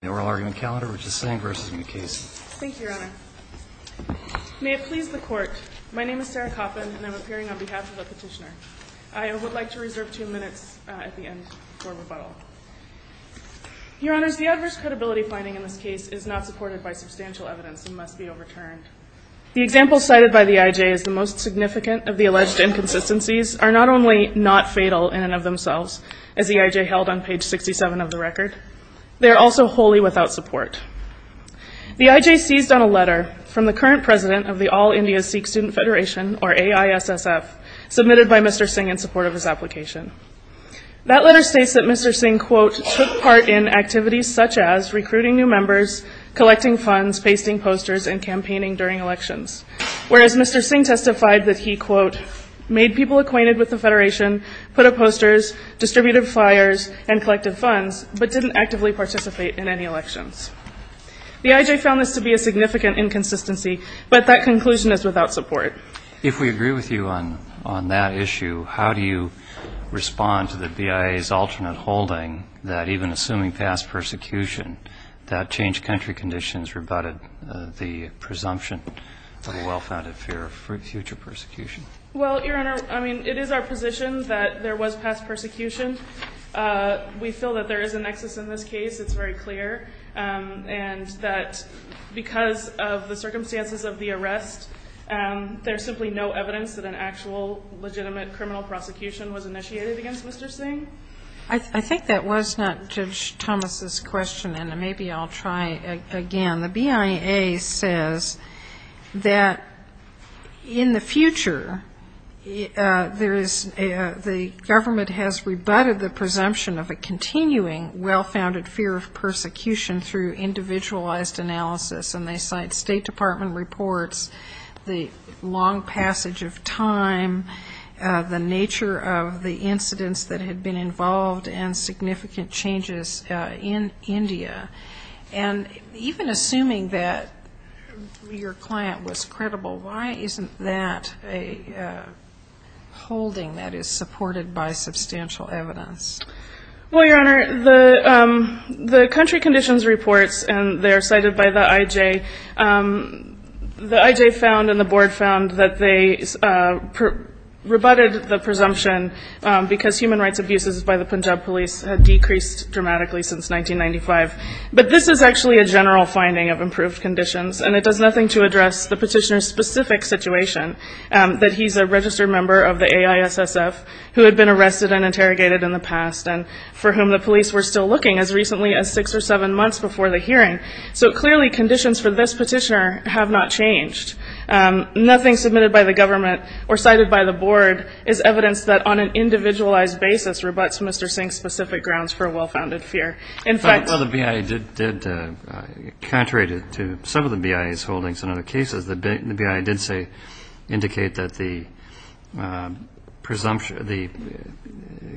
Thank you, Your Honor. May it please the Court, my name is Sarah Koppin and I'm appearing on behalf of the petitioner. I would like to reserve two minutes at the end for rebuttal. Your Honors, the adverse credibility finding in this case is not supported by substantial evidence and must be overturned. The examples cited by the I.J. as the most significant of the alleged inconsistencies are not only not fatal in and of themselves, as the I.J. held on page 67 of the record, they are also wholly without support. The I.J. seized on a letter from the current president of the All India Sikh Student Federation, or AISSF, submitted by Mr. Singh in support of his application. That letter states that Mr. Singh, quote, took part in activities such as recruiting new members, collecting funds, pasting posters, and campaigning during elections, whereas Mr. Singh testified that he, quote, made people acquainted with the Federation, put up posters, distributed flyers, and collected funds, but didn't actively participate in any elections. The I.J. found this to be a significant inconsistency, but that conclusion is without support. If we agree with you on that issue, how do you respond to the BIA's alternate holding that even assuming past persecution, that changed country conditions rebutted the presumption of a well-founded fear of future persecution? Well, Your Honor, I mean, it is our position that there was past persecution. We feel that there is a nexus in this case. It's very clear. And that because of the circumstances of the arrest, there's simply no evidence that an actual legitimate criminal prosecution was initiated against Mr. Singh. I think that was not Judge Thomas' question, and maybe I'll try again. The BIA says that in the future, there is the government has rebutted the presumption of a continuing well-founded fear of persecution through individualized analysis, and they cite State Department reports, the long passage of time, the nature of the incidents that had been involved, and significant changes in India. And even assuming that your client was credible, why isn't that a holding that is supported by substantial evidence? Well, Your Honor, the country conditions reports, and they are cited by the IJ, the IJ found and the board found that they rebutted the presumption because human rights abuses by the Punjab police had decreased dramatically since 1995. But this is actually a general finding of improved conditions, and it does nothing to address the petitioner's specific situation, that he's a registered member of the AISSF who had been arrested and interrogated in the past, and for whom the police were still looking as recently as six or seven months before the hearing. So clearly conditions for this petitioner have not changed. Nothing submitted by the government or cited by the board is evidence that on an individualized basis rebuts Mr. Singh's specific grounds for a well-founded fear. Well, the BIA did, contrary to some of the BIA's holdings and other cases, the BIA did say, indicate that the presumption, the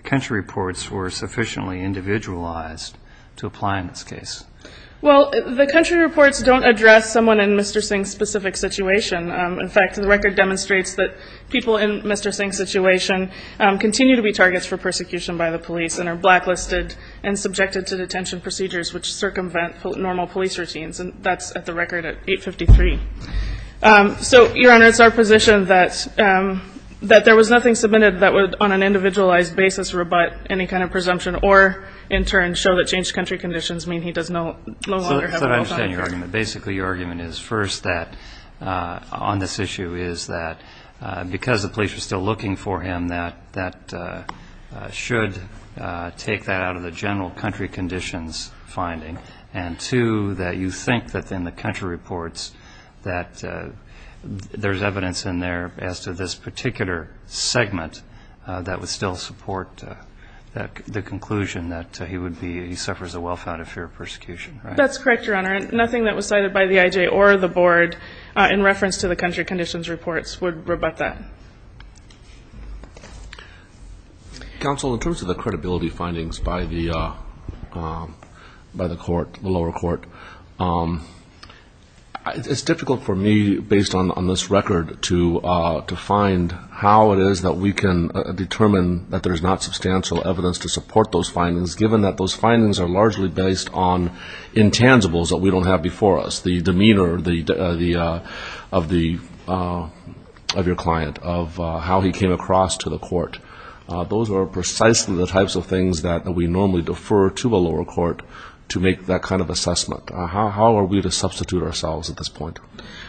country reports were sufficiently individualized to apply in this case. Well, the country reports don't address someone in Mr. Singh's specific situation. In fact, the record demonstrates that people in Mr. Singh's situation continue to be targets for persecution by the police and are blacklisted and subjected to detention procedures which circumvent normal police routines, and that's at the record at 853. So, Your Honor, it's our position that there was nothing submitted that would, on an individualized basis, rebut any kind of presumption or, in turn, show that changed your argument. Basically, your argument is, first, that on this issue is that because the police are still looking for him, that should take that out of the general country conditions finding, and two, that you think that in the country reports that there's evidence in there as to this particular segment that would still support the conclusion that he would be, he suffers a well-founded fear of persecution, right? That's correct, Your Honor. Nothing that was cited by the IJ or the board in reference to the country conditions reports would rebut that. Counsel, in terms of the credibility findings by the court, the lower court, it's difficult for me, based on this record, to find how it is that we can determine that there's not substantial evidence to support those findings, given that those findings are largely based on intangibles that we don't have before us, the demeanor of your client, of how he came across to the court. Those are precisely the types of things that we normally defer to the lower court to make that kind of assessment. How are we to substitute ourselves at this point?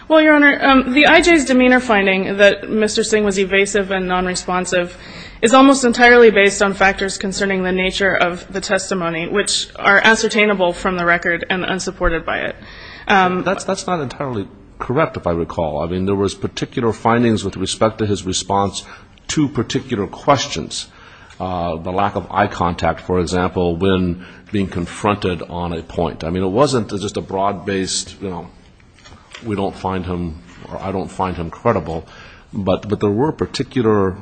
Well, Your Honor, the IJ's demeanor finding that Mr. Singh was evasive and nonresponsive is almost entirely based on factors concerning the nature of the testimony, which are unsustainable from the record and unsupported by it. That's not entirely correct, if I recall. I mean, there was particular findings with respect to his response to particular questions, the lack of eye contact, for example, when being confronted on a point. I mean, it wasn't just a broad-based, you know, we don't find him or I don't find him credible, but there were particular,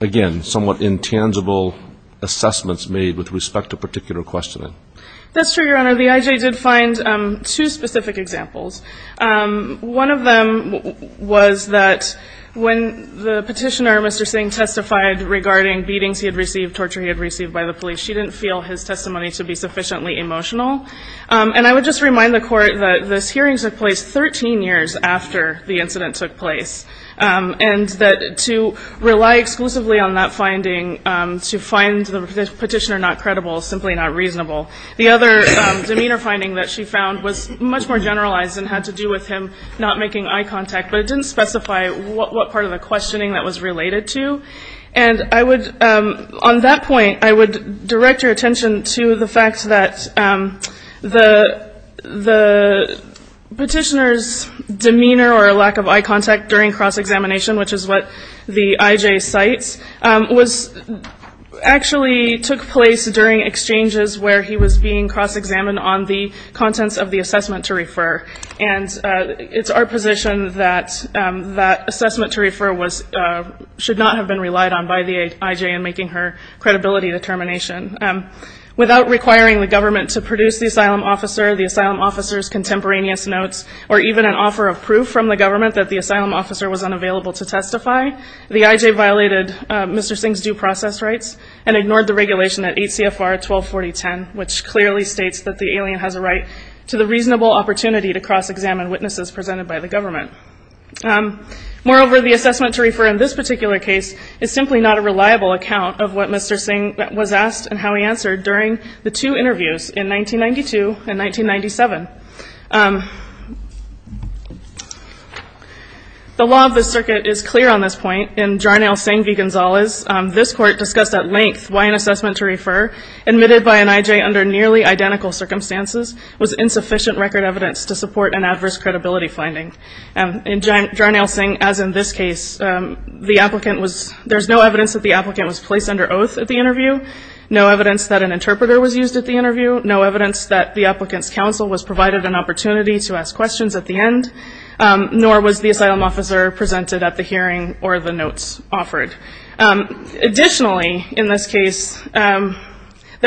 again, somewhat intangible assessments made with respect to particular questioning. That's true, Your Honor. The IJ did find two specific examples. One of them was that when the petitioner, Mr. Singh, testified regarding beatings he had received, torture he had received by the police, she didn't feel his testimony to be sufficiently emotional. And I would just remind the court that this hearing took place 13 years after the incident took place, and that to rely exclusively on that finding to find the petitioner not credible is simply not reasonable. The other demeanor finding that she found was much more generalized and had to do with him not making eye contact, but it didn't specify what part of the questioning that was related to. And I would, on that point, I would direct your attention to the fact that the petitioner's demeanor or lack of eye contact during cross-examination, which is what the IJ cites, actually took place during exchanges where he was being cross-examined on the contents of the assessment to refer. And it's our position that that assessment to refer should not have been relied on by the IJ in making her credibility determination. Without requiring the government to produce the asylum officer, the asylum officer's contemporaneous notes, or even an offer of proof from the government that the asylum officer was unavailable to testify, the IJ violated Mr. Singh's due process rights and ignored the regulation at 8 CFR 124010, which clearly states that the alien has a right to the reasonable opportunity to cross-examine witnesses presented by the government. Moreover, the assessment to refer in this particular case is simply not a reliable account of what Mr. Singh was asked and how he answered during the two interviews in 1992 and 1997. The law of the circuit is clear on this point. In Jarnail Singh v. Gonzalez, this court discussed at length why an assessment to refer admitted by an IJ under nearly identical circumstances was insufficient record evidence to support an adverse credibility finding. In Jarnail No evidence that an interpreter was used at the interview. No evidence that the applicant's counsel was provided an opportunity to ask questions at the end. Nor was the asylum officer presented at the hearing or the notes offered. Additionally, in this case, there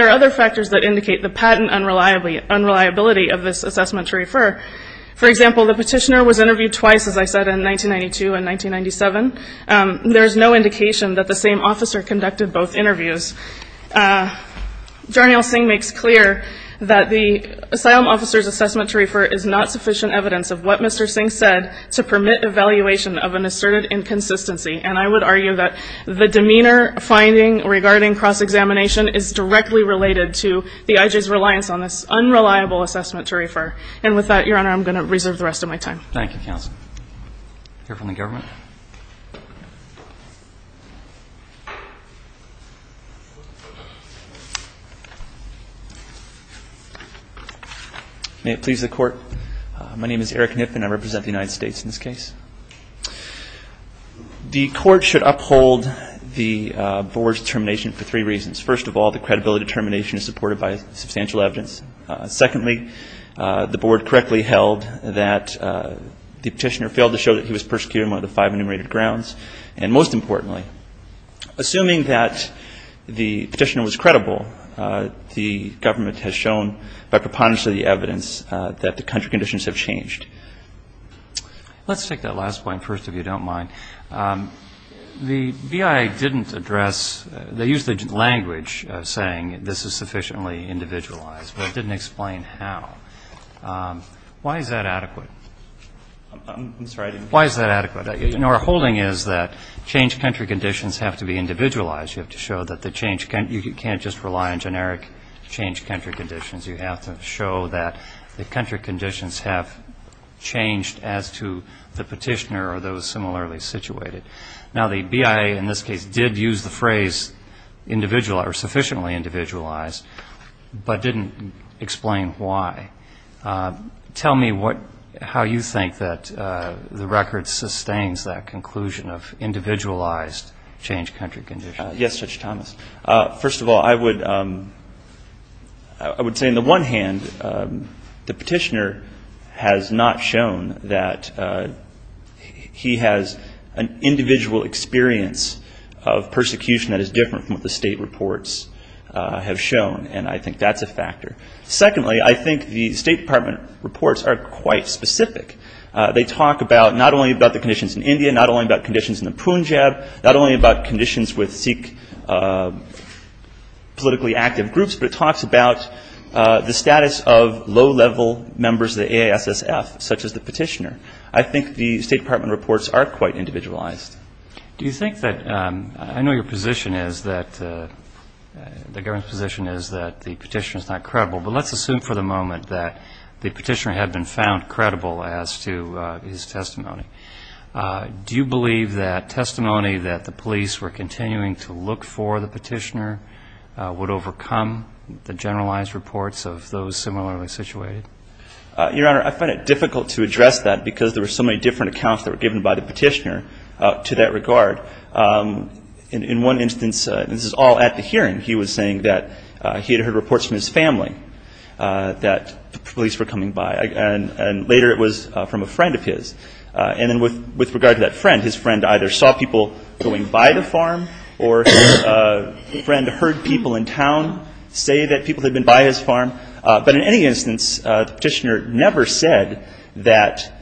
are other factors that indicate the patent unreliability of this assessment to refer. For example, the petitioner was interviewed twice, as I same officer conducted both interviews. Jarnail Singh makes clear that the asylum officer's assessment to refer is not sufficient evidence of what Mr. Singh said to permit evaluation of an asserted inconsistency. And I would argue that the demeanor finding regarding cross-examination is directly related to the IJ's reliance on this unreliable assessment to refer. And with that, Your Honor, I'm going to reserve the rest of my time. Thank you, counsel. I'll hear from the government. May it please the Court. My name is Eric Knipp, and I represent the United States in this case. The Court should uphold the Board's determination for three reasons. First of all, the credibility determination is supported by substantial evidence. Secondly, the Board correctly held that the petitioner failed to show that he was persecuted on one of the five enumerated grounds. And most importantly, assuming that the petitioner was credible, the government has shown by preponderance of the evidence that the country conditions have changed. Let's take that last point first, if you don't mind. The BIA didn't address, they used the language of saying this is sufficiently individualized, but it didn't explain how. Why is that adequate? I'm sorry. Why is that adequate? Our holding is that change country conditions have to be individualized. You have to show that the change, you can't just rely on generic change country conditions. You have to show that the country conditions have changed as to the petitioner or those similarly situated. Now, the BIA in this case did use the phrase individualized or sufficiently individualized, but didn't explain why. Tell me how you think that the record sustains that conclusion of individualized change country conditions. Yes, Judge Thomas. First of all, I would say on the one hand, the petitioner has not shown that he has an individual experience of persecution that is different from what the state reports. Have shown, and I think that's a factor. Secondly, I think the state department reports are quite specific. They talk about not only about the conditions in India, not only about conditions in the Punjab, not only about conditions with Sikh politically active groups, but it talks about the status of low-level members of the AISSF, such as the petitioner. I think the state department reports are quite individualized. Do you think that, I know your position is that, the government's position is that the petitioner is not credible, but let's assume for the moment that the petitioner had been found credible as to his testimony. Do you believe that testimony that the police were continuing to look for the petitioner would overcome the generalized reports of those similarly situated? Your Honor, I find it difficult to address that because there were so many different accounts that were given by the petitioner to that regard. In one instance, this is all at the hearing, he was saying that he had heard reports from his family that the police were coming by. And later it was from a friend of his. And then with regard to that friend, his friend either saw people going by the farm or his friend heard people in town say that people had been by his farm. But in any instance, the petitioner never said that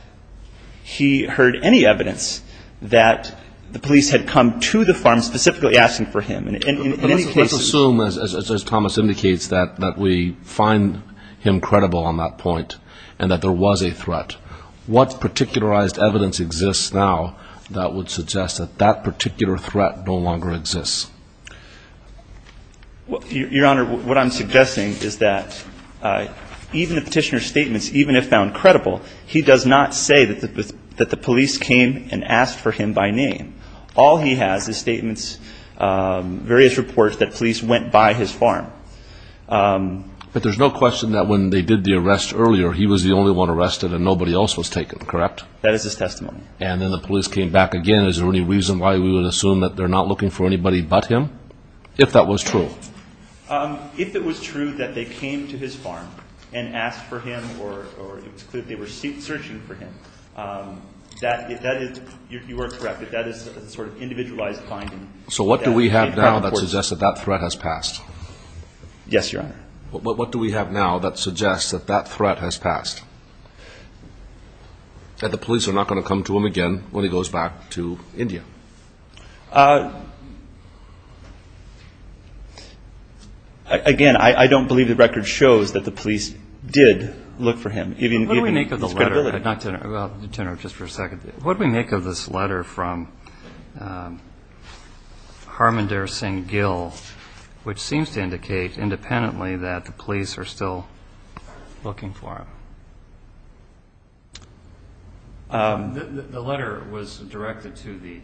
he heard any evidence that the police had come to the farm specifically asking for him. Let's assume, as Thomas indicates, that we find him credible on that point and that there was a threat. What particularized evidence exists now that would suggest that that particular threat no longer exists? Your Honor, what I'm suggesting is that even the petitioner's statements, even if found credible, he does not say that the police came and asked for him by name. All he has is statements, various reports that police went by his farm. But there's no question that when they did the arrest earlier, he was the only one arrested and nobody else was taken, correct? That is his testimony. And then the police came back again. Is there any reason why we would assume that they're not looking for anybody but him? If that was true. If it was true that they came to his farm and asked for him or it was clear that they were searching for him, that is, you are correct, that is a sort of individualized finding. So what do we have now that suggests that that threat has passed? Yes, Your Honor. What do we have now that suggests that that threat has passed, that the police are not going to come to him again when he goes back to India? Again, I don't believe the record shows that the police did look for him, even given his credibility. What do we make of the letter? I'd like to turn it over just for a second. What do we make of this letter from Harmander Singh Gill, which seems to indicate independently that the police are still looking for him? The letter was directed to the,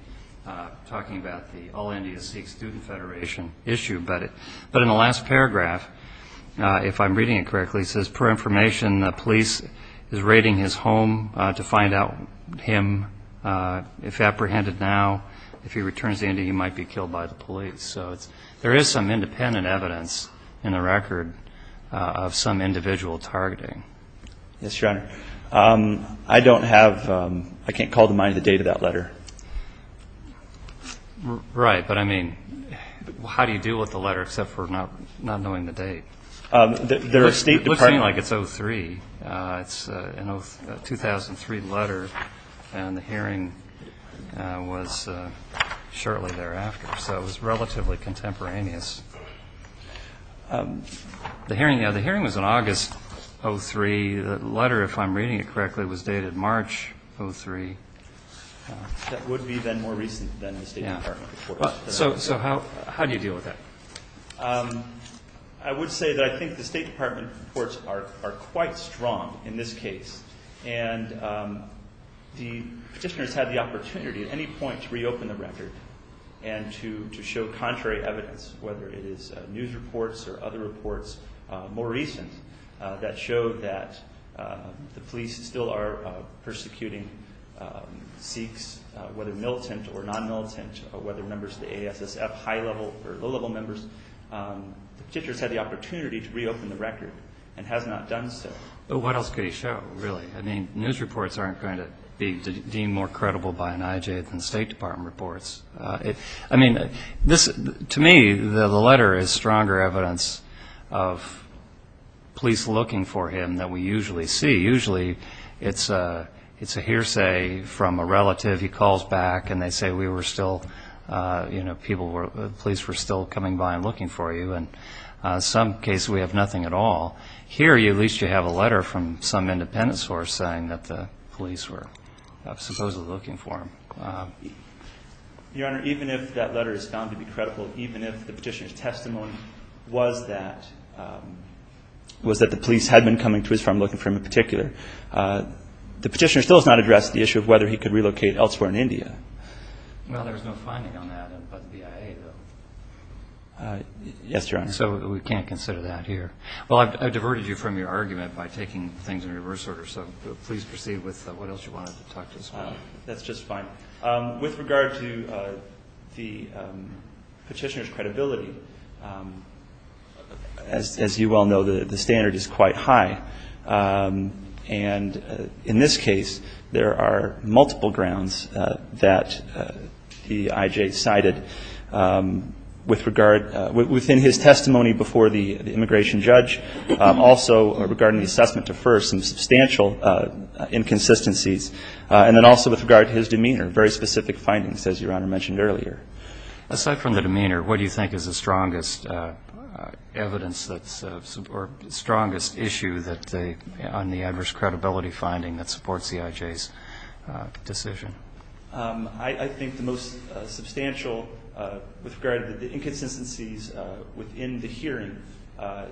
talking about the All India Sikh Student Federation issue, but in the last paragraph, if I'm reading it correctly, it says, per information, the police is raiding his home to find out him. If apprehended now, if he returns to India, he might be killed by the police. So there is some independent evidence in the record of some individual targeting. Yes, Your Honor. I don't have, I can't call to mind the date of that letter. Right, but I mean, how do you deal with the letter, except for not knowing the date? It looks like it's 03. It's a 2003 letter, and the hearing was shortly thereafter, so it was relatively contemporaneous. The hearing was in August 03. The letter, if I'm reading it correctly, was dated March 03. That would be then more recent than the State Department reports. So how do you deal with that? I would say that I think the State Department reports are quite strong in this case, and the petitioners had the opportunity at any point to reopen the record, and to show contrary evidence, whether it is news reports or other reports more recent, that showed that the police still are persecuting Sikhs, whether militant or non-militant, or whether members of the ASSF, high-level or low-level members. The petitioners had the opportunity to reopen the record, and has not done so. But what else could he show, really? I mean, news reports aren't going to be deemed more credible by an IJ than State Department reports. I mean, to me, the letter is stronger evidence of police looking for him than we usually see. Usually, it's a hearsay from a relative. He calls back, and they say, you know, police were still coming by and looking for you. In some cases, we have nothing at all. Here, at least you have a letter from some independence force saying that the police were supposedly looking for him. Your Honor, even if that letter is found to be credible, even if the petitioner's testimony was that the police had been coming to his farm looking for him in particular, the petitioner still has not addressed the issue of whether he could relocate elsewhere in India. Yes, Your Honor. So we can't consider that here. Well, I've diverted you from your argument by taking things in reverse order, so please proceed with what else you wanted to talk to us about. That's just fine. With regard to the petitioner's credibility, as you well know, the standard is quite high. And in this case, there are multiple grounds that the IJ cited within his testimony before the immigration judge. Also, regarding the assessment at first, some substantial inconsistencies. And then also with regard to his demeanor, very specific findings, as Your Honor mentioned earlier. Aside from the demeanor, what do you think is the strongest evidence or strongest issue on the adverse credibility finding that supports the IJ's decision? I think the most substantial, with regard to the inconsistencies within the hearing,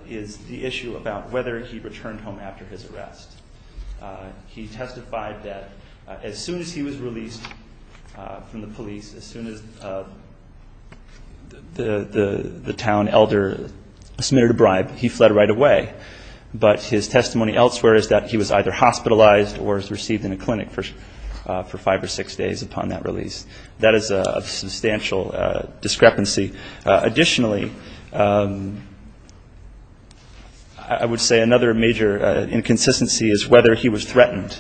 is the issue about whether he returned home after his arrest. He testified that as soon as he was released from the police, as soon as the town elder submitted a bribe, he fled right away. But his testimony elsewhere is that he was either hospitalized or was received in a clinic for five or six days upon that release. That is a substantial discrepancy. Additionally, I would say another major inconsistency is whether he was threatened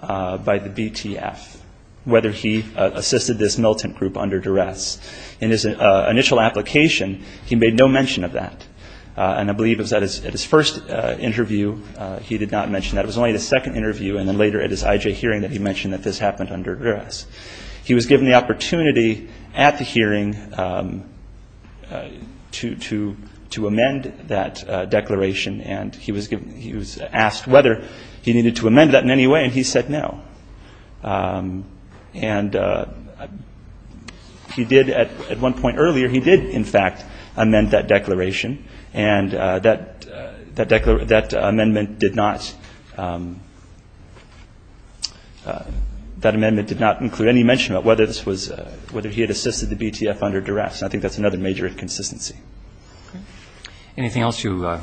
by the BTF, whether he assisted this militant group under duress. In his initial application, he made no mention of that. And I believe it was at his first interview he did not mention that. It was only at his second interview and then later at his IJ hearing that he mentioned that this happened under duress. He was given the opportunity at the hearing to amend that declaration, and he was asked whether he needed to amend that in any way, and he said no. And he did at one point earlier, he did in fact amend that declaration, and that amendment did not include any mention of whether he had assisted the BTF under duress. I think that's another major inconsistency. Anything else? You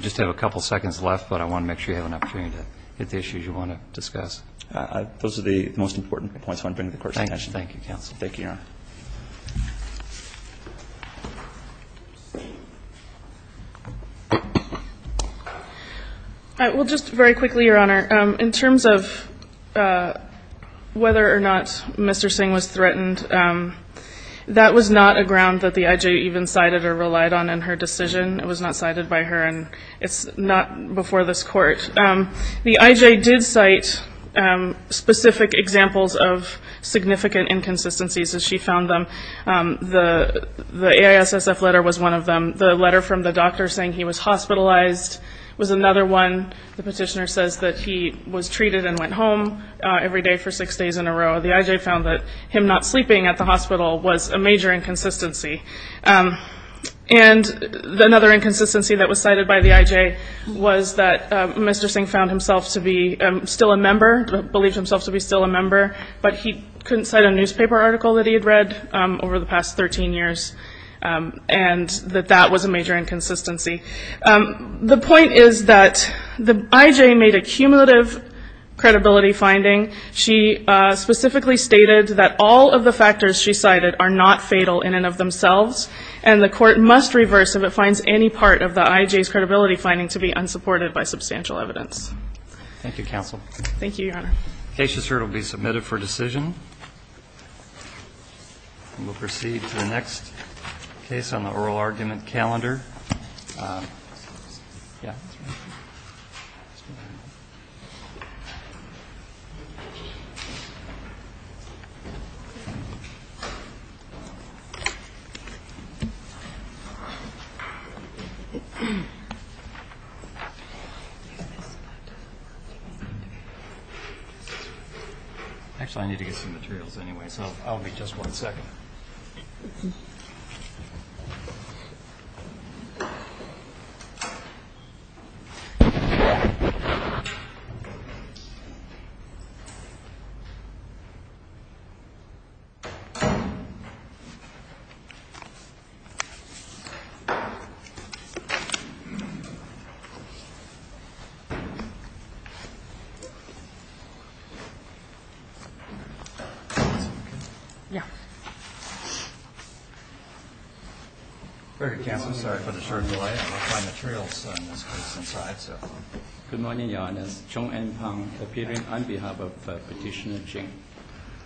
just have a couple seconds left, but I want to make sure you have an opportunity to hit the issues you want to discuss. Those are the most important points I want to bring to the Court's attention. Thank you, Your Honor. Well, just very quickly, Your Honor, in terms of whether or not Mr. Singh was threatened, that was not a ground that the IJ even cited or relied on in her decision. It was not cited by her, and it's not before this Court. The IJ did cite specific examples of significant inconsistencies as she found them. The AISSF letter was one of them. The letter from the doctor saying he was hospitalized was another one. The petitioner says that he was treated and went home every day for six days in a row. The IJ found that him not sleeping at the hospital was a major inconsistency. And another inconsistency that was cited by the IJ was that Mr. Singh found himself to be still a member, believed himself to be still a member, but he couldn't cite a newspaper article that he had read over the past 13 years, and that that was a major inconsistency. The point is that the IJ made a cumulative credibility finding. She specifically stated that all of the factors she cited are not fatal in and of themselves, and the Court must reverse if it finds any part of the IJ's credibility finding to be unsupported by substantial evidence. Thank you, counsel. Thank you, Your Honor. The case is here to be submitted for decision. And we'll proceed to the next case on the oral argument calendar. Yeah. That's right. Actually, I need to get some materials anyway, so I'll be just one second. Yeah. Very good, counsel. Sorry for the short delay. I'll find the materials in this case inside, so. Good morning, Your Honor. Chong En Pang, appearing on behalf of Petitioner Jing.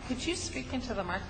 Could you speak into the microphone?